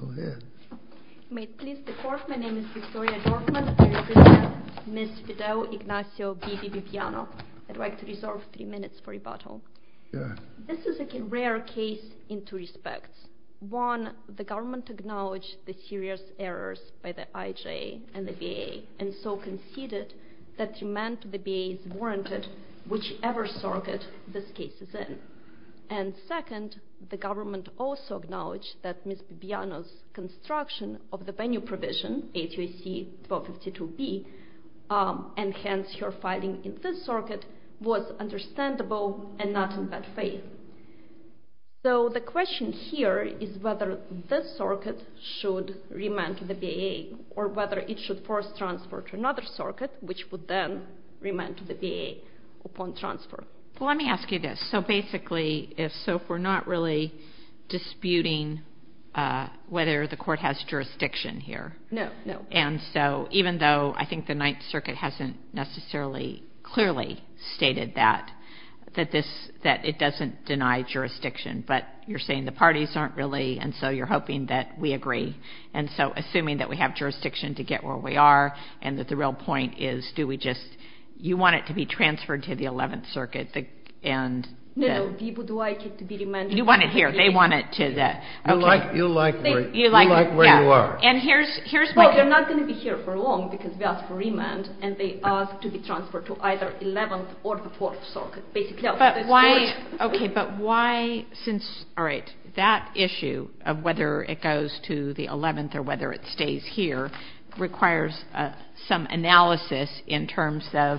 Go ahead. May it please the Court, my name is Victoria Dorfman, I represent Ms. Fidele Ignacio Bibi Bibiano. I'd like to reserve three minutes for rebuttal. Go ahead. This is a rare case in two respects. One, the government acknowledged the serious errors by the IJA and the BA, and so conceded that remand to the BA is warranted whichever circuit this case is in. And second, the government also acknowledged that Ms. Bibiano's construction of the venue provision, A2AC-1252B, and hence her filing in this circuit, was understandable and not in bad faith. So the question here is whether this circuit should remand to the BA, or whether it should be forced transferred to another circuit, which would then remand to the BA upon transfer. Well, let me ask you this. So basically, if so, if we're not really disputing whether the court has jurisdiction here. No, no. And so, even though I think the Ninth Circuit hasn't necessarily clearly stated that, that this, that it doesn't deny jurisdiction, but you're saying the parties aren't really, and so you're hoping that we agree. And so, assuming that we have jurisdiction to get where we are, and that the real point is, do we just, you want it to be transferred to the Eleventh Circuit, and... No, no. We would like it to be remanded. You want it here. They want it to the... You like where you are. And here's my... Well, you're not going to be here for long, because we ask for remand, and they ask to be transferred to either Eleventh or the Fourth Circuit, basically. But why, okay, but why, since, all right, that issue of whether it goes to the Eleventh or whether it stays here requires some analysis in terms of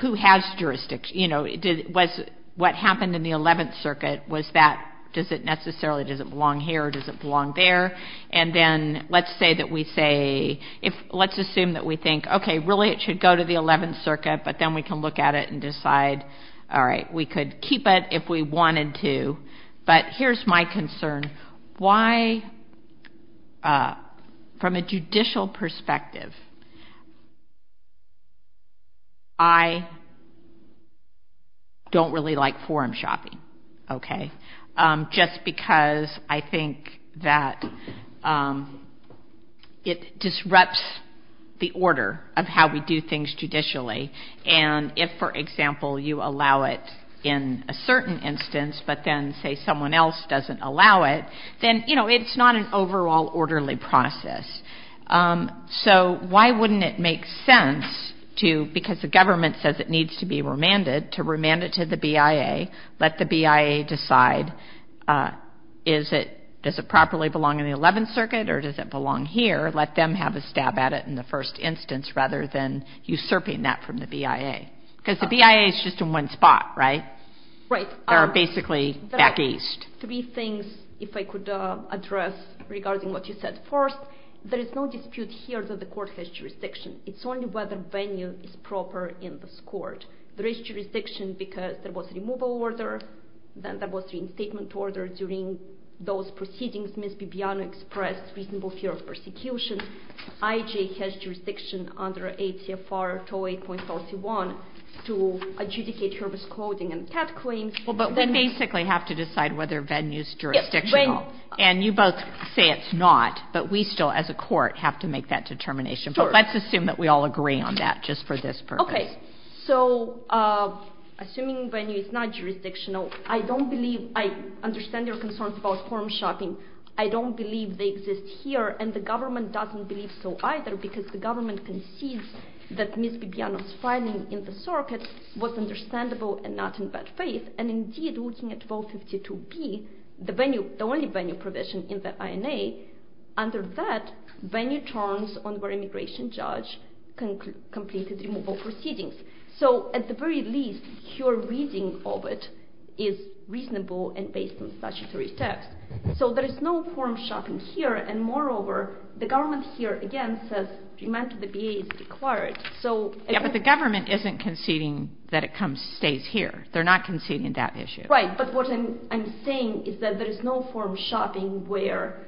who has jurisdiction, you know, did, was, what happened in the Eleventh Circuit, was that, does it necessarily, does it belong here or does it belong there? And then, let's say that we say, if, let's assume that we think, okay, really it should go to the Eleventh Circuit, but then we can look at it and decide, all right, we could keep it if we wanted to. But here's my concern. Why, from a judicial perspective, I don't really like forum shopping, okay, just because I think that it disrupts the order of how we do things judicially. And if, for example, you allow it in a certain instance, but then, say, someone else doesn't allow it, then, you know, it's not an overall orderly process. So why wouldn't it make sense to, because the government says it needs to be remanded, to remand it to the BIA, let the BIA decide, is it, does it properly belong in the Eleventh Circuit or does it belong here? Let them have a stab at it in the first instance rather than usurping that from the BIA. Because the BIA is just in one spot, right? Right. They're basically back east. Three things, if I could address regarding what you said. First, there is no dispute here that the court has jurisdiction. It's only whether venue is proper in this court. There is jurisdiction because there was removal order, then there was reinstatement order during those proceedings. Ms. Bibiano expressed reasonable fear of persecution. IJ has jurisdiction under ATFR 208.41 to adjudicate her misclothing and cat claims. Well, but we basically have to decide whether venue is jurisdictional. And you both say it's not, but we still, as a court, have to make that determination. Sure. But let's assume that we all agree on that just for this purpose. Okay. So, assuming venue is not jurisdictional, I understand your concerns about form shopping. I don't believe they exist here, and the government doesn't believe so either because the government concedes that Ms. Bibiano's filing in the circuit was understandable and not in bad faith. And indeed, looking at 1252B, the only venue provision in the INA, under that, venue terms on where immigration judge completed removal proceedings. So, at the very least, your reading of it is reasonable and based on statutory text. So, there is no form shopping here, and moreover, the government here, again, says remand to the BA is required. Yeah, but the government isn't conceding that it stays here. They're not conceding that issue. Right, but what I'm saying is that there is no form shopping where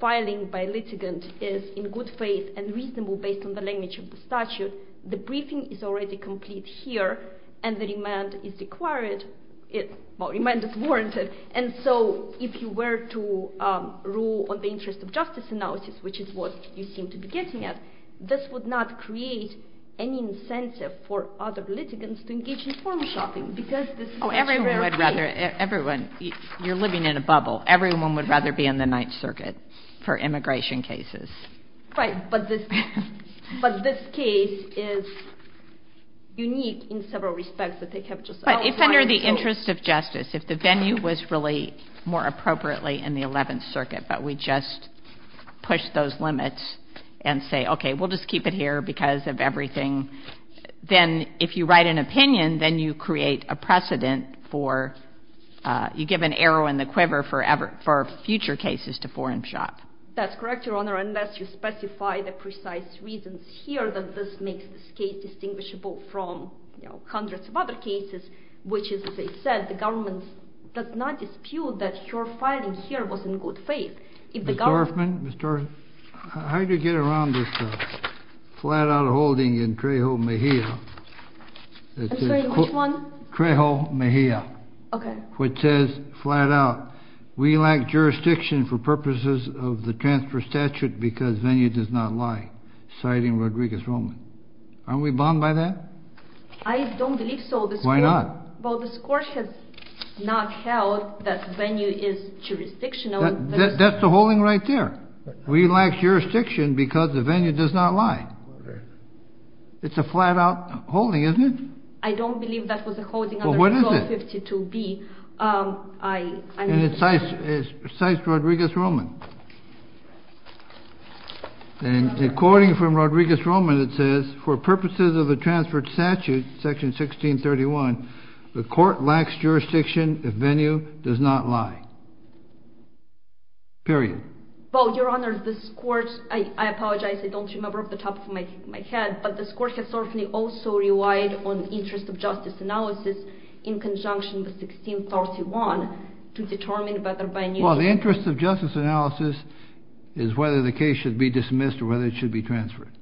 filing by litigant is in good faith and reasonable based on the language of the statute. The briefing is already complete here, and the remand is required. Well, remand is warranted. And so, if you were to rule on the interest of justice analysis, which is what you seem to be getting at, this would not create any incentive for other litigants to engage in form shopping because this is a very rare case. Oh, everyone would rather, everyone, you're living in a bubble. Everyone would rather be in the Ninth Circuit for immigration cases. Right, but this case is unique in several respects that they have just outlined. But if under the interest of justice, if the venue was really more appropriately in the Eleventh Circuit, but we just push those limits and say, okay, we'll just keep it here because of everything, then if you write an opinion, then you create a precedent for, you give an arrow in the quiver for future cases to form shop. That's correct, Your Honor, unless you specify the precise reasons here that this makes this case distinguishable from hundreds of other cases, which is, as I said, the government does not dispute that your filing here was in good faith. Ms. Dorfman, how did you get around this flat-out holding in Trejo Mejia? I'm sorry, which one? Trejo Mejia. Okay. Which says flat out, we lack jurisdiction for purposes of the transfer statute because venue does not lie, citing Rodriguez-Roman. Aren't we bound by that? I don't believe so. Why not? Well, this Court has not held that venue is jurisdictional. That's the holding right there. We lack jurisdiction because the venue does not lie. It's a flat-out holding, isn't it? I don't believe that was a holding under 1252B. Well, what is it? And it cites Rodriguez-Roman. And according from Rodriguez-Roman, it says, for purposes of the transfer statute, section 1631, the Court lacks jurisdiction if venue does not lie. Period. Well, Your Honor, this Court, I apologize, I don't remember off the top of my head, but this Court has certainly also relied on the interest of justice analysis in conjunction with 1631 to determine whether by a new... Well, the interest of justice analysis is whether the case should be dismissed or whether it should be transferred.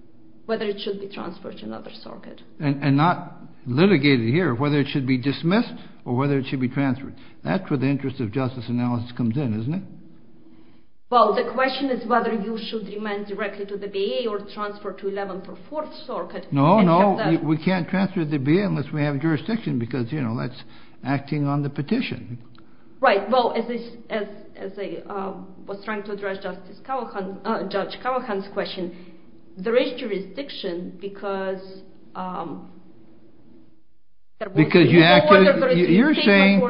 Whether it should be transferred to another circuit. And not litigated here, whether it should be dismissed or whether it should be transferred. That's where the interest of justice analysis comes in, isn't it? Well, the question is whether you should remain directly to the BA or transfer to 1144th Circuit. No, no, we can't transfer to the BA unless we have jurisdiction because, you know, that's acting on the petition. Right, well, as I was trying to address Judge Callahan's question, there is jurisdiction because... Because you acted... You're saying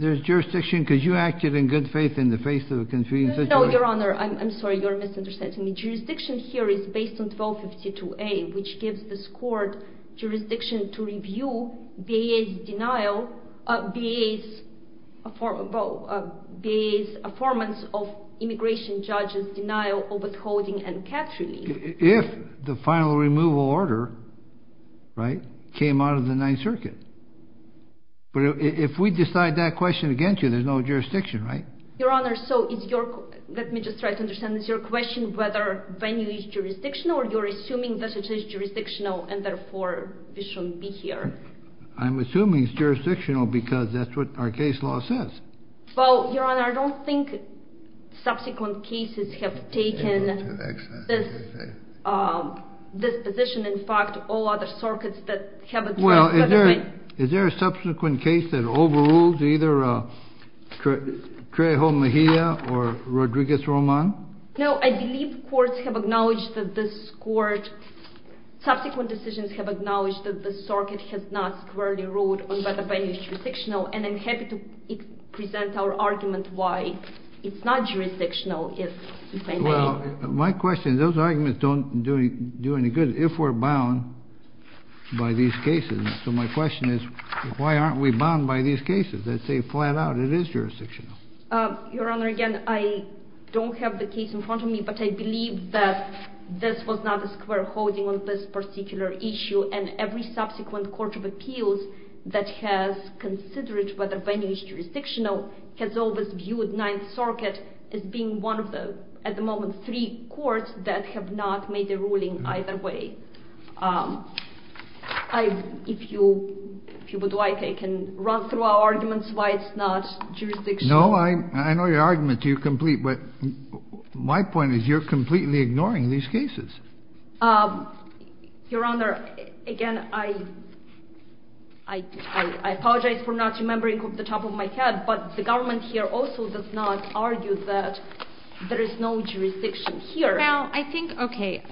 there's jurisdiction because you acted in good faith in the face of a confusing situation? No, Your Honor, I'm sorry, you're misunderstanding me. Jurisdiction here is based on 1252A, which gives this court jurisdiction to review BA's denial... BA's... BA's affirmance of immigration judge's denial of withholding and capture leave. If the final removal order, right, came out of the 9th Circuit. But if we decide that question against you, there's no jurisdiction, right? Your Honor, so is your... Let me just try to understand. Is your question whether venue is jurisdictional or you're assuming that it is jurisdictional and therefore we shouldn't be here? I'm assuming it's jurisdictional because that's what our case law says. Well, Your Honor, I don't think subsequent cases have taken this position. In fact, all other circuits that have... Well, is there a subsequent case that overrules either Trejo Mejia or Rodriguez Roman? No, I believe courts have acknowledged that this court... Subsequent decisions have acknowledged that this circuit has not squarely ruled on whether venue is jurisdictional and I'm happy to present our argument why it's not jurisdictional if venue... Well, my question, those arguments don't do any good if we're bound by these cases. So my question is why aren't we bound by these cases that say flat out it is jurisdictional? Your Honor, again, I don't have the case in front of me, but I believe that this was not a square holding on this particular issue and every subsequent court of appeals that has considered whether venue is jurisdictional has always viewed Ninth Circuit as being one of the, at the moment, three courts that have not made a ruling either way. If you would like, I can run through our arguments why it's not jurisdictional. No, I know your argument to your complete, but my point is you're completely ignoring these cases. Your Honor, again, I apologize for not remembering off the top of my head, but the government here also does not argue that there is no jurisdiction here. Well, I think, okay,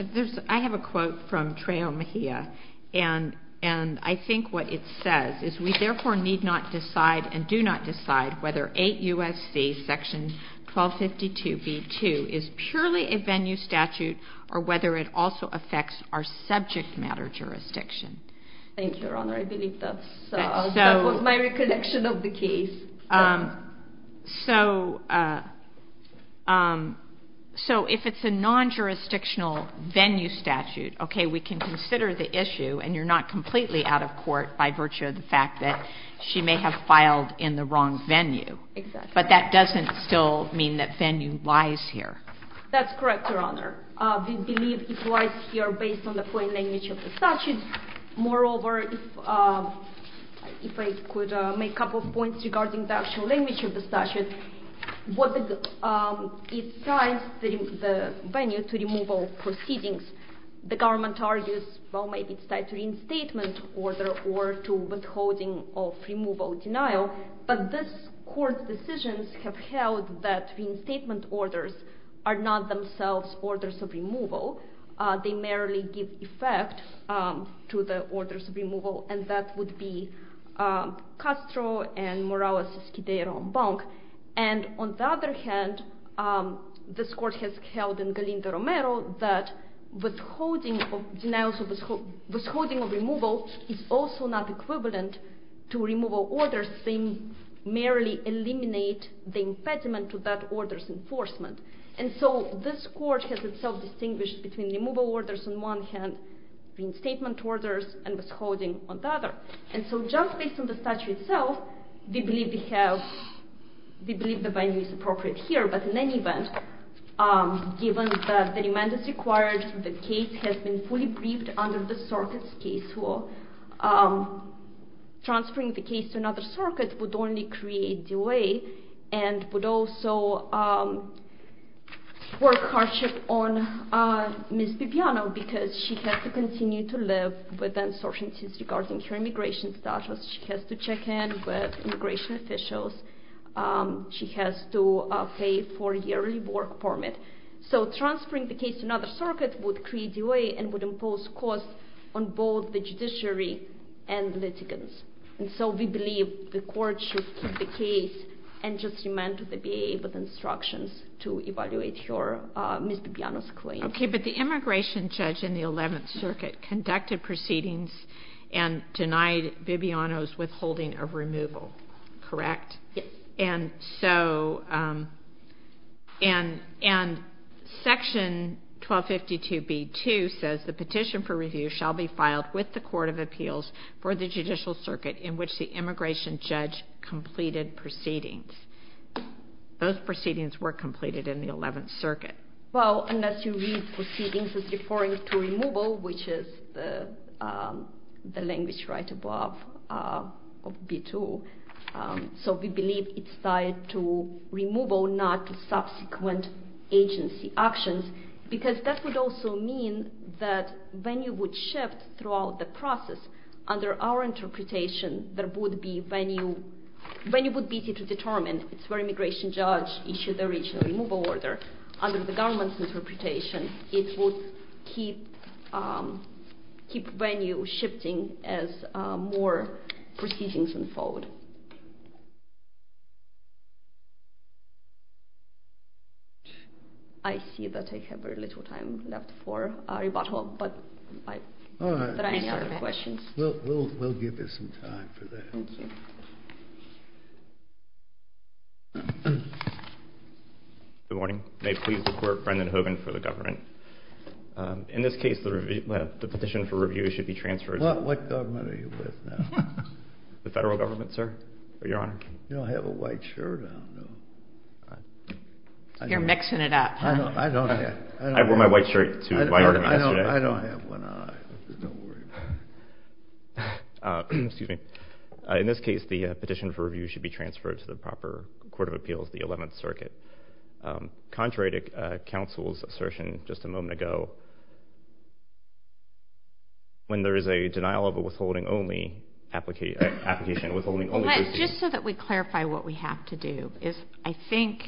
I have a quote from Trejo Mejia and I think what it says is we therefore need not decide and do not decide whether 8 U.S.C. section 1252 B.2 is purely a venue statute or whether it also affects our subject matter jurisdiction. Thank you, Your Honor. I believe that was my recollection of the case. So if it's a non-jurisdictional venue statute, okay, we can consider the issue and you're not completely out of court by virtue of the fact that she may have filed in the wrong venue. Exactly. But that doesn't still mean that venue lies here. That's correct, Your Honor. We believe it lies here based on the plain language of the statute. Moreover, if I could make a couple of points regarding the actual language of the statute, it ties the venue to removal proceedings. The government argues, well, maybe it's tied to reinstatement order or to withholding of removal denial, but this court's decisions have held that reinstatement orders are not themselves orders of removal. They merely give effect to the orders of removal, and that would be Castro and Morales-Escudero-Ombank. And on the other hand, this court has held in Galindo-Romero that withholding of denials, withholding of removal is also not equivalent to removal orders. They merely eliminate the impediment to that order's enforcement. And so this court has itself distinguished between removal orders on one hand, reinstatement orders, and withholding on the other. And so just based on the statute itself, we believe the venue is appropriate here. But in any event, given that the remand is required, the case has been fully briefed under the circuit's case law, transferring the case to another circuit would only create delay and would also work hardship on Ms. Bibiano, because she has to continue to live with uncertainties regarding her immigration status. She has to check in with immigration officials. She has to pay a four-year work permit. So transferring the case to another circuit would create delay and would impose costs on both the judiciary and litigants. And so we believe the court should keep the case and just remand to the BIA with instructions to evaluate your Ms. Bibiano's claim. Okay, but the immigration judge in the 11th Circuit conducted proceedings and denied Bibiano's withholding of removal, correct? Yes. And so section 1252B-2 says, the petition for review shall be filed with the Court of Appeals for the Judicial Circuit in which the immigration judge completed proceedings. Those proceedings were completed in the 11th Circuit. Well, unless you read proceedings as referring to removal, which is the language right above of B-2. So we believe it's tied to removal, not subsequent agency actions, because that would also mean that venue would shift throughout the process. Under our interpretation, venue would be B-2 determined. It's where immigration judge issued the original removal order. Under the government's interpretation, it would keep venue shifting as more proceedings unfold. I see that I have very little time left for rebuttal, but are there any other questions? All right. We'll give you some time for that. Thank you. Good morning. May it please the Court, Brendan Hogan for the government. In this case, the petition for review should be transferred. What government are you with now? The federal government, sir. Your Honor. You don't have a white shirt, I don't know. You're mixing it up. I don't have one. I wore my white shirt to my argument yesterday. I don't have one either. Don't worry about it. Excuse me. In this case, the petition for review should be transferred to the proper Court of Appeals, the 11th Circuit. Contrary to counsel's assertion just a moment ago, when there is a denial of a withholding only application. Just so that we clarify what we have to do. I think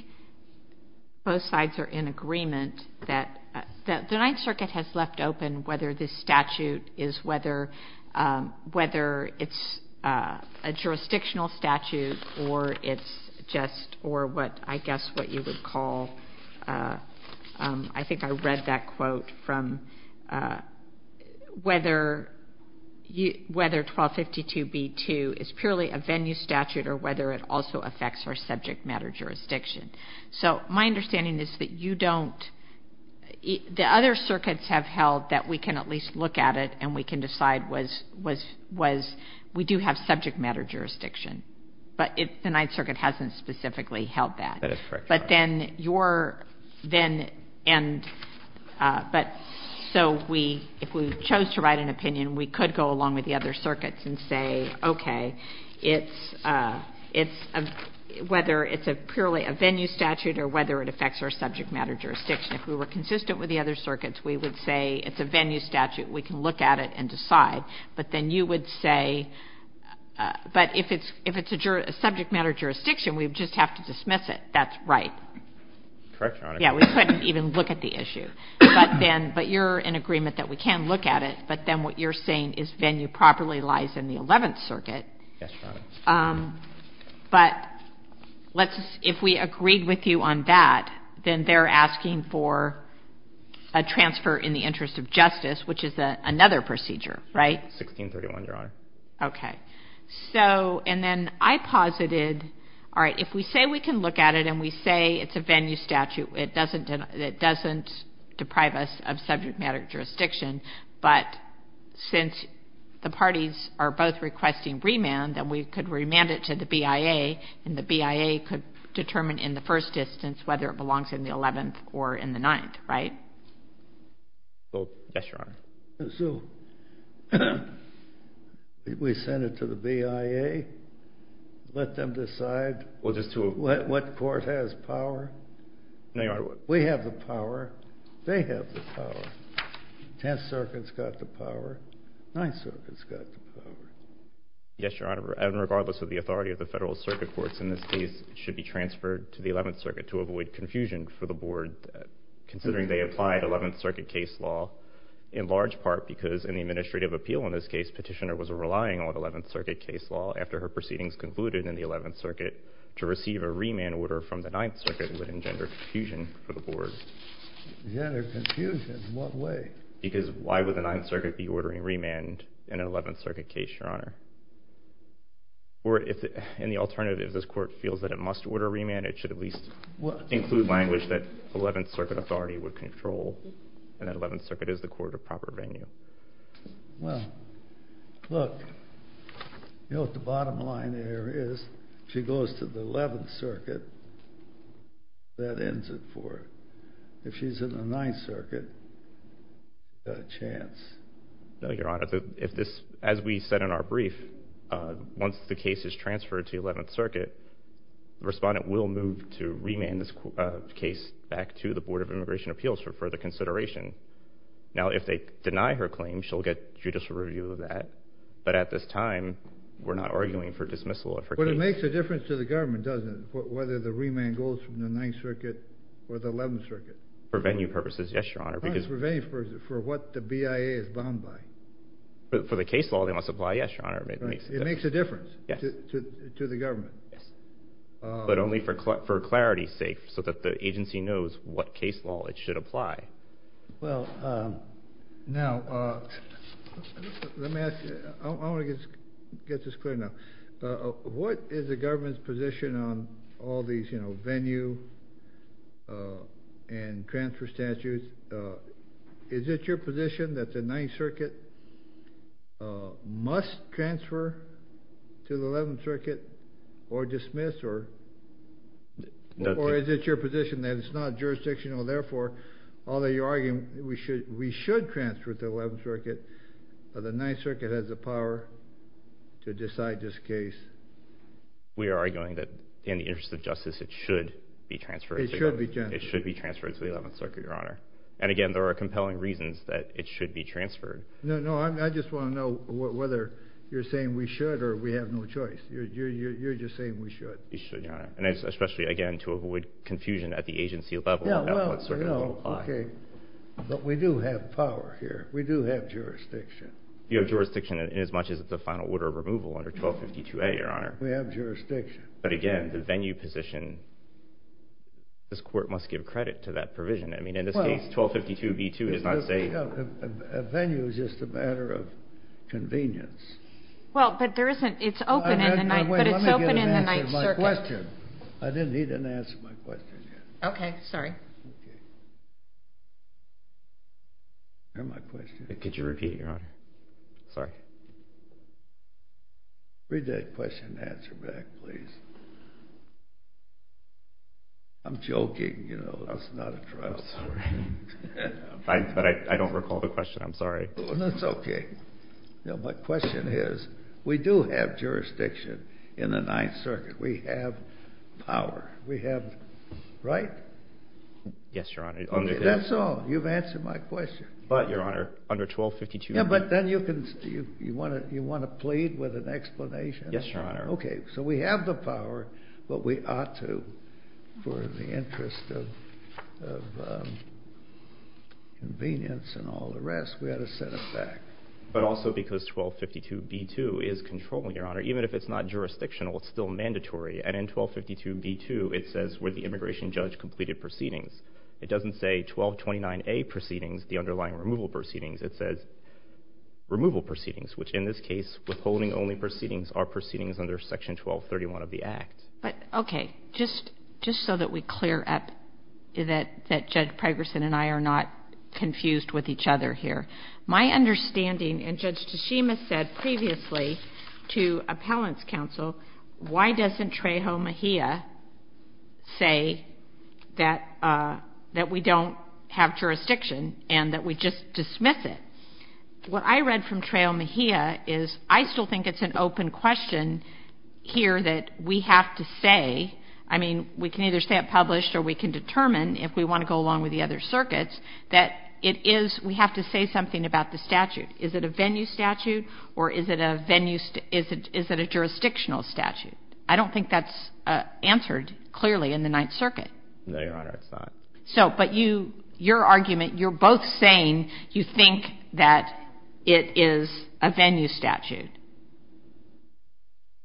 both sides are in agreement that the 9th Circuit has left open whether this statute is whether it's a jurisdictional statute or it's just or what I guess what you would call, I think I read that quote from whether 1252B2 is purely a venue statute or whether it also affects our subject matter jurisdiction. So my understanding is that you don't, the other circuits have held that we can at least look at it and we can decide we do have subject matter jurisdiction. But the 9th Circuit hasn't specifically held that. That is correct. But then your then and but so we if we chose to write an opinion, we could go along with the other circuits and say, okay, it's whether it's a purely a venue statute or whether it affects our subject matter jurisdiction. If we were consistent with the other circuits, we would say it's a venue statute. We can look at it and decide. But then you would say, but if it's a subject matter jurisdiction, we just have to dismiss it. That's right. Correct, Your Honor. Yeah, we couldn't even look at the issue. But then, but you're in agreement that we can look at it. But then what you're saying is venue properly lies in the 11th Circuit. Yes, Your Honor. But let's, if we agreed with you on that, then they're asking for a transfer in the interest of justice, which is another procedure, right? 1631, Your Honor. Okay. So and then I posited, all right, if we say we can look at it and we say it's a venue statute, it doesn't deprive us of subject matter jurisdiction. But since the parties are both requesting remand, then we could remand it to the BIA, and the BIA could determine in the first distance whether it belongs in the 11th or in the 9th, right? Well, yes, Your Honor. So we send it to the BIA, let them decide what court has power? No, Your Honor. We have the power, they have the power. 10th Circuit's got the power, 9th Circuit's got the power. Yes, Your Honor. And regardless of the authority of the federal circuit courts in this case, it should be transferred to the 11th Circuit to avoid confusion for the board, considering they applied 11th Circuit case law in large part because in the administrative appeal in this case, Petitioner was relying on 11th Circuit case law after her proceedings concluded in the 11th Circuit to receive a remand order from the 9th Circuit would engender confusion for the board. Engender confusion? In what way? Because why would the 9th Circuit be ordering remand in an 11th Circuit case, Your Honor? Or in the alternative, if this court feels that it must order remand, it should at least include language that 11th Circuit authority would control and that 11th Circuit is the court of proper venue. Well, look, you know what the bottom line there is? If she goes to the 11th Circuit, that ends it for her. If she's in the 9th Circuit, she's got a chance. No, Your Honor. As we said in our brief, once the case is transferred to the 11th Circuit, the respondent will move to remand this case back to the Board of Immigration Appeals for further consideration. Now, if they deny her claim, she'll get judicial review of that. But at this time, we're not arguing for dismissal of her case. But it makes a difference to the government, doesn't it, whether the remand goes from the 9th Circuit or the 11th Circuit? For venue purposes, yes, Your Honor. For what the BIA is bound by. For the case law, they must apply, yes, Your Honor. It makes a difference to the government. Yes. But only for clarity's sake so that the agency knows what case law it should apply. Well, now, let me ask you. I want to get this clear now. What is the government's position on all these, you know, venue and transfer statutes? Is it your position that the 9th Circuit must transfer to the 11th Circuit or dismiss or is it your position that it's not jurisdictional? Therefore, although you're arguing we should transfer to the 11th Circuit, the 9th Circuit has the power to decide this case. We are arguing that in the interest of justice, it should be transferred. It should be transferred. It should be transferred to the 11th Circuit, Your Honor. And, again, there are compelling reasons that it should be transferred. No, no, I just want to know whether you're saying we should or we have no choice. You're just saying we should. We should, Your Honor. And especially, again, to avoid confusion at the agency level. Yeah, well, you know, okay, but we do have power here. We do have jurisdiction. You have jurisdiction in as much as the final order of removal under 1252A, Your Honor. We have jurisdiction. But, again, the venue position, this Court must give credit to that provision. I mean, in this case, 1252B2 does not say – Well, a venue is just a matter of convenience. Well, but there isn't – it's open in the 9th – but it's open in the 9th Circuit. Let me get an answer to my question. He didn't answer my question yet. Okay, sorry. Okay. Where's my question? Could you repeat it, Your Honor? Sorry. Read that question and answer back, please. I'm joking, you know. That's not a trial. I'm sorry. But I don't recall the question. I'm sorry. That's okay. No, my question is, we do have jurisdiction in the 9th Circuit. We have power. We have – right? Yes, Your Honor. Okay, that's all. You've answered my question. But, Your Honor, under 1252B2 – Yeah, but then you want to plead with an explanation? Yes, Your Honor. Okay, so we have the power, but we ought to, for the interest of convenience and all the rest, we ought to set it back. But also because 1252B2 is controlling, Your Honor. Even if it's not jurisdictional, it's still mandatory. And in 1252B2, it says where the immigration judge completed proceedings. It doesn't say 1229A proceedings, the underlying removal proceedings. It says removal proceedings, which in this case, withholding only proceedings, are proceedings under Section 1231 of the Act. But, okay, just so that we clear up that Judge Pregerson and I are not confused with each other here, my understanding, and Judge Tshishima said previously to Appellant's Counsel, why doesn't Trejo Mejia say that we don't have jurisdiction and that we just dismiss it? What I read from Trejo Mejia is I still think it's an open question here that we have to say – I mean, we can either say it published or we can determine if we want to go along with the other circuits – that it is – we have to say something about the statute. Is it a venue statute or is it a venue – is it a jurisdictional statute? I don't think that's answered clearly in the Ninth Circuit. No, Your Honor, it's not. So – but you – your argument, you're both saying you think that it is a venue statute.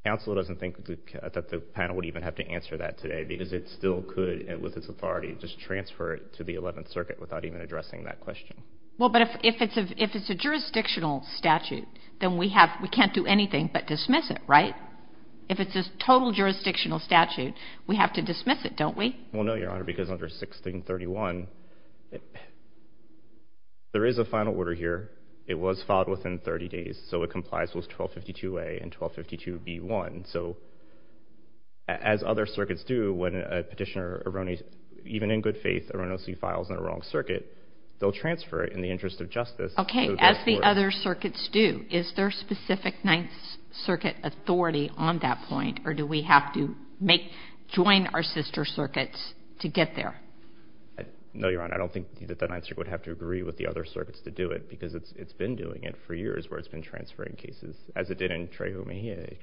Counsel doesn't think that the panel would even have to answer that today because it still could, with its authority, just transfer it to the Eleventh Circuit without even addressing that question. Well, but if it's a jurisdictional statute, then we have – we can't do anything but dismiss it, right? If it's a total jurisdictional statute, we have to dismiss it, don't we? Well, no, Your Honor, because under 1631, there is a final order here. It was filed within 30 days, so it complies with 1252A and 1252B1. So as other circuits do, when a petitioner erroneously – even in good faith erroneously files in a wrong circuit, they'll transfer it in the interest of justice. Okay. As the other circuits do, is there specific Ninth Circuit authority on that point or do we have to make – join our sister circuits to get there? No, Your Honor, I don't think that the Ninth Circuit would have to agree with the other circuits to do it because it's been doing it for years where it's been transferring cases, as it did in Trehumehe.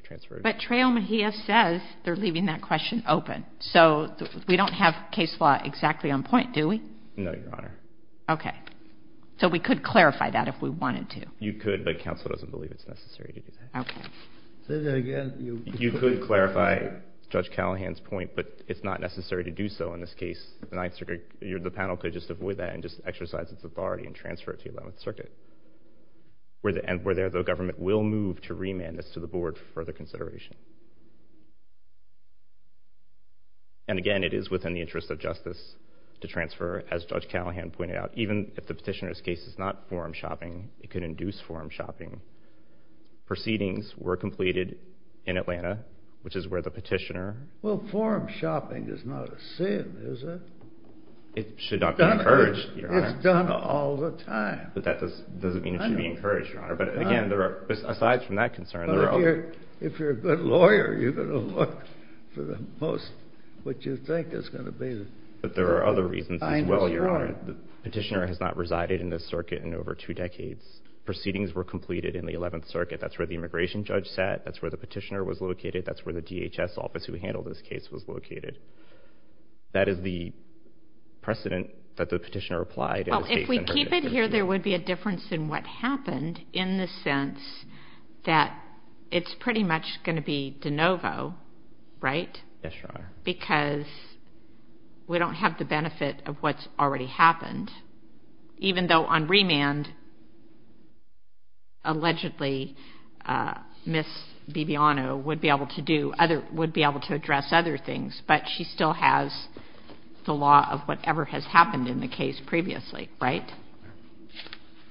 But Trehumehe says they're leaving that question open. So we don't have case law exactly on point, do we? No, Your Honor. Okay. So we could clarify that if we wanted to. You could, but counsel doesn't believe it's necessary to do that. Okay. Say that again. You could clarify Judge Callahan's point, but it's not necessary to do so in this case. The Ninth Circuit – the panel could just avoid that and just exercise its authority and transfer it to 11th Circuit, where the government will move to remand this to the board for further consideration. And again, it is within the interest of justice to transfer, as Judge Callahan pointed out. Even if the petitioner's case is not forum shopping, it could induce forum shopping. Proceedings were completed in Atlanta, which is where the petitioner – Well, forum shopping is not a sin, is it? It should not be encouraged, Your Honor. It's done all the time. But that doesn't mean it should be encouraged, Your Honor. But again, there are – aside from that concern, there are – Well, if you're a good lawyer, you're going to look for the most – what you think is going to be the – But there are other reasons as well, Your Honor. I know, Your Honor. The petitioner has not resided in this circuit in over two decades. Proceedings were completed in the 11th Circuit. That's where the immigration judge sat. That's where the petitioner was located. That's where the DHS office who handled this case was located. That is the precedent that the petitioner applied in this case. Well, if we keep it here, there would be a difference in what happened in the sense that it's pretty much going to be de novo, right? Yes, Your Honor. Because we don't have the benefit of what's already happened. Even though on remand, allegedly, Ms. Bibiano would be able to do other – would be able to address other things, but she still has the law of whatever has happened in the case previously, right?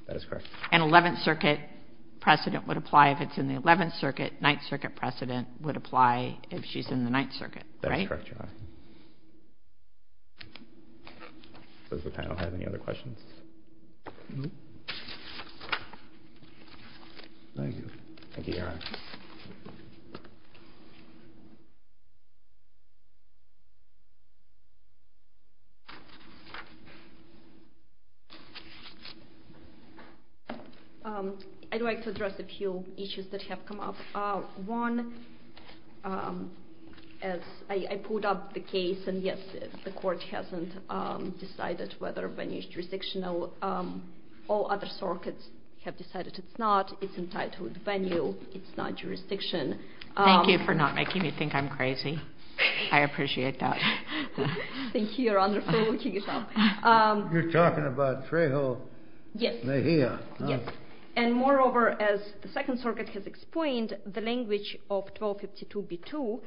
That is correct. An 11th Circuit precedent would apply if it's in the 11th Circuit. Ninth Circuit precedent would apply if she's in the Ninth Circuit, right? That is correct, Your Honor. Thank you. Does the panel have any other questions? No. Thank you. Thank you, Your Honor. I'd like to address a few issues that have come up. One, as I pulled up the case, and yes, the Court hasn't decided whether Venue is jurisdictional. All other circuits have decided it's not. It's entitled Venue. It's not jurisdiction. Thank you for not making me think I'm crazy. I appreciate that. Thank you, Your Honor, for looking it up. You're talking about Trejo Mejia, huh? Yes. And moreover, as the Second Circuit has explained, the language of 1252b2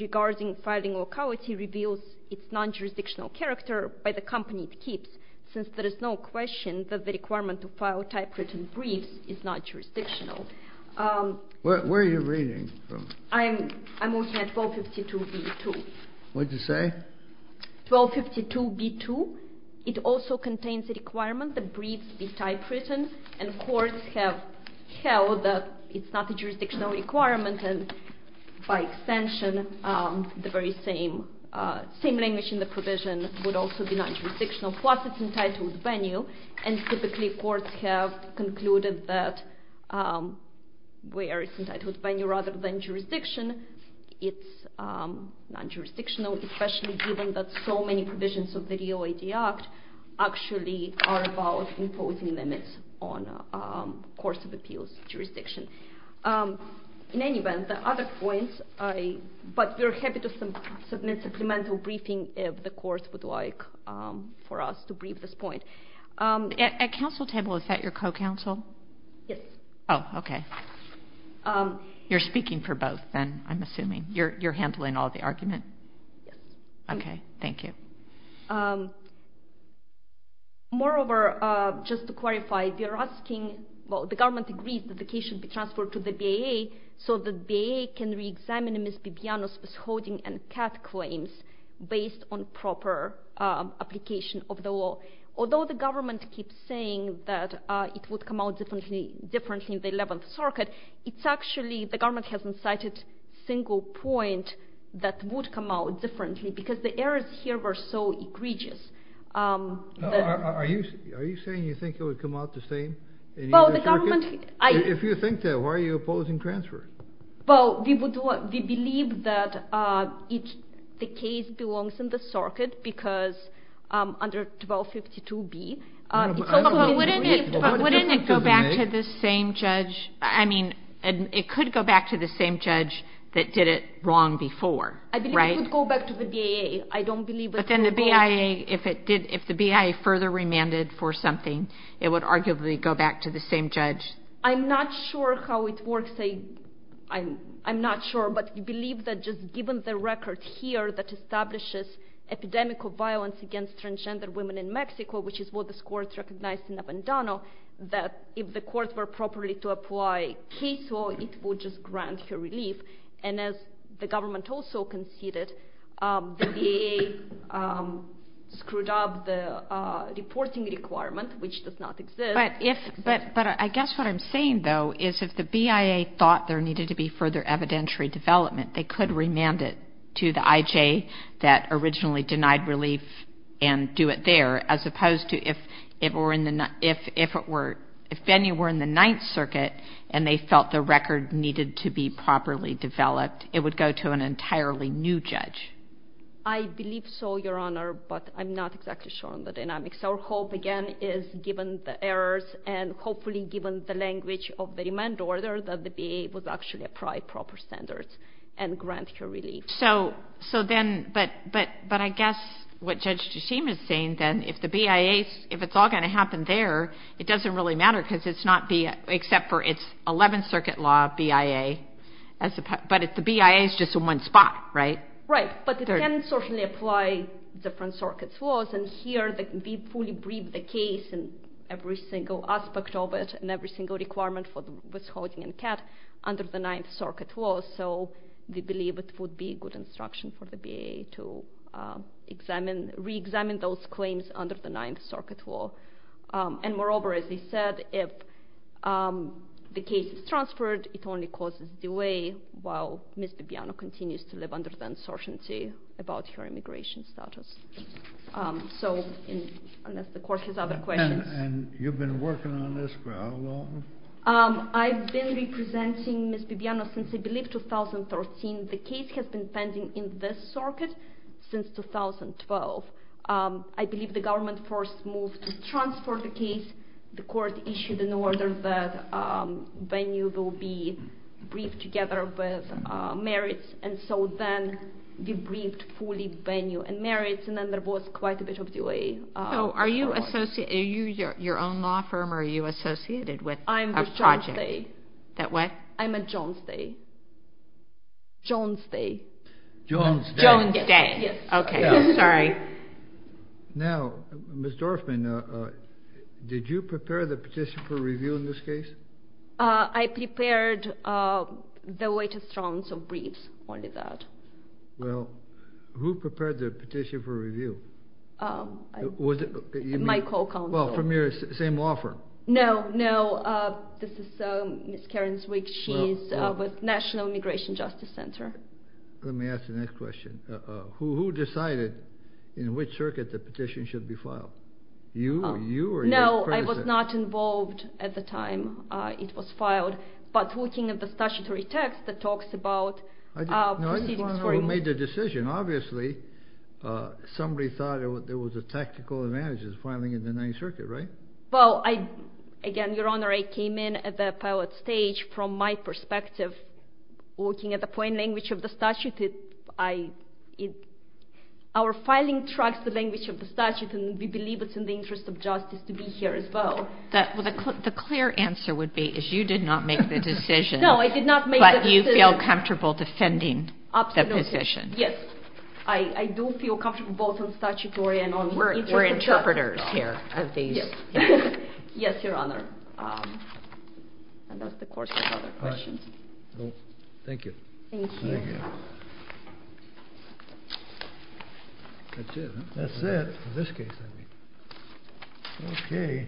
regarding filing locality reveals its non-jurisdictional character by the company it keeps, since there is no question that the requirement to file typewritten briefs is not jurisdictional. Where are you reading from? I'm looking at 1252b2. What did you say? 1252b2, it also contains a requirement that briefs be typewritten, and courts have held that it's not a jurisdictional requirement, and by extension the very same language in the provision would also be non-jurisdictional, plus it's entitled Venue. And typically courts have concluded that where it's entitled Venue rather than jurisdiction, it's non-jurisdictional, especially given that so many provisions of the DOJ Act actually are about imposing limits on courts of appeals jurisdiction. In any event, the other points, but we're happy to submit supplemental briefing if the courts would like for us to brief this point. At counsel table, is that your co-counsel? Yes. Oh, okay. You're speaking for both then, I'm assuming. You're handling all the argument? Yes. Okay. Thank you. Moreover, just to clarify, we are asking, well the government agrees that the case should be transferred to the BAA so the BAA can reexamine Ms. Bibiano's withholding and CAT claims based on proper application of the law. Although the government keeps saying that it would come out differently in the 11th circuit, it's actually the government hasn't cited a single point that would come out differently because the errors here were so egregious. Are you saying you think it would come out the same in either circuit? If you think that, why are you opposing transfer? Well, we believe that the case belongs in the circuit because under 1252B it's a little bit different. But wouldn't it go back to the same judge? I mean, it could go back to the same judge that did it wrong before, right? I believe it could go back to the BAA. I don't believe it's wrong. But then the BAA, if the BAA further remanded for something, it would arguably go back to the same judge. I'm not sure how it works. I'm not sure. But we believe that just given the record here that establishes epidemical violence against transgender women in Mexico, which is what this court recognized in Abandono, that if the courts were properly to apply case law, it would just grant relief. And as the government also conceded, the BAA screwed up the reporting requirement, which does not exist. But I guess what I'm saying, though, is if the BAA thought there needed to be further evidentiary development, they could remand it to the IJ that originally denied relief and do it there, as opposed to if it were in the ninth circuit and they felt the record needed to be properly developed, it would go to an entirely new judge. I believe so, Your Honor, but I'm not exactly sure on the dynamics. Our hope, again, is given the errors and hopefully given the language of the remand order, that the BAA would actually apply proper standards and grant relief. So then, but I guess what Judge DeShima is saying, then, if the BIA, if it's all going to happen there, it doesn't really matter because it's not BIA, except for it's 11th Circuit law, BIA. But the BIA is just in one spot, right? Right. But it can certainly apply different circuit laws. And here, we fully briefed the case and every single aspect of it and every single requirement for withholding and CAT under the ninth circuit law. So we believe it would be good instruction for the BIA to examine, re-examine those claims under the ninth circuit law. And moreover, as I said, if the case is transferred, it only causes delay while Ms. Bibiano continues to live under the uncertainty about her immigration status. So, unless the court has other questions. And you've been working on this for how long? I've been representing Ms. Bibiano since, I believe, 2013. The case has been pending in this circuit since 2012. I believe the government first moved to transfer the case the court issued in order that venue will be briefed together with merits. And so then we briefed fully venue and merits, and then there was quite a bit of delay. So are you your own law firm or are you associated with a project? I'm with Jones Day. That what? I'm at Jones Day. Jones Day. Jones Day. Jones Day. Yes. Okay. Sorry. Now, Ms. Dorfman, did you prepare the petition for review in this case? I prepared the latest rounds of briefs. Only that. Well, who prepared the petition for review? My co-counsel. Well, from your same law firm. No, no. This is Ms. Karen Zwick. She's with National Immigration Justice Center. Let me ask the next question. Who decided in which circuit the petition should be filed? You? No, I was not involved at the time it was filed. But looking at the statutory text that talks about proceedings. No, it's the one who made the decision. Obviously, somebody thought there was a tactical advantage of filing in the 9th Circuit, right? Well, again, Your Honor, I came in at the pilot stage from my perspective. Looking at the plain language of the statute, our filing tracks the language of the statute, and we believe it's in the interest of justice to be here as well. The clear answer would be is you did not make the decision. No, I did not make the decision. But you feel comfortable defending the position. Absolutely, yes. I do feel comfortable both on statutory and on interpretation. We're interpreters here. Yes, Your Honor. And that's the course of other questions. All right. Thank you. Thank you. Thank you. That's it, huh? That's it. In this case, I mean. Okay.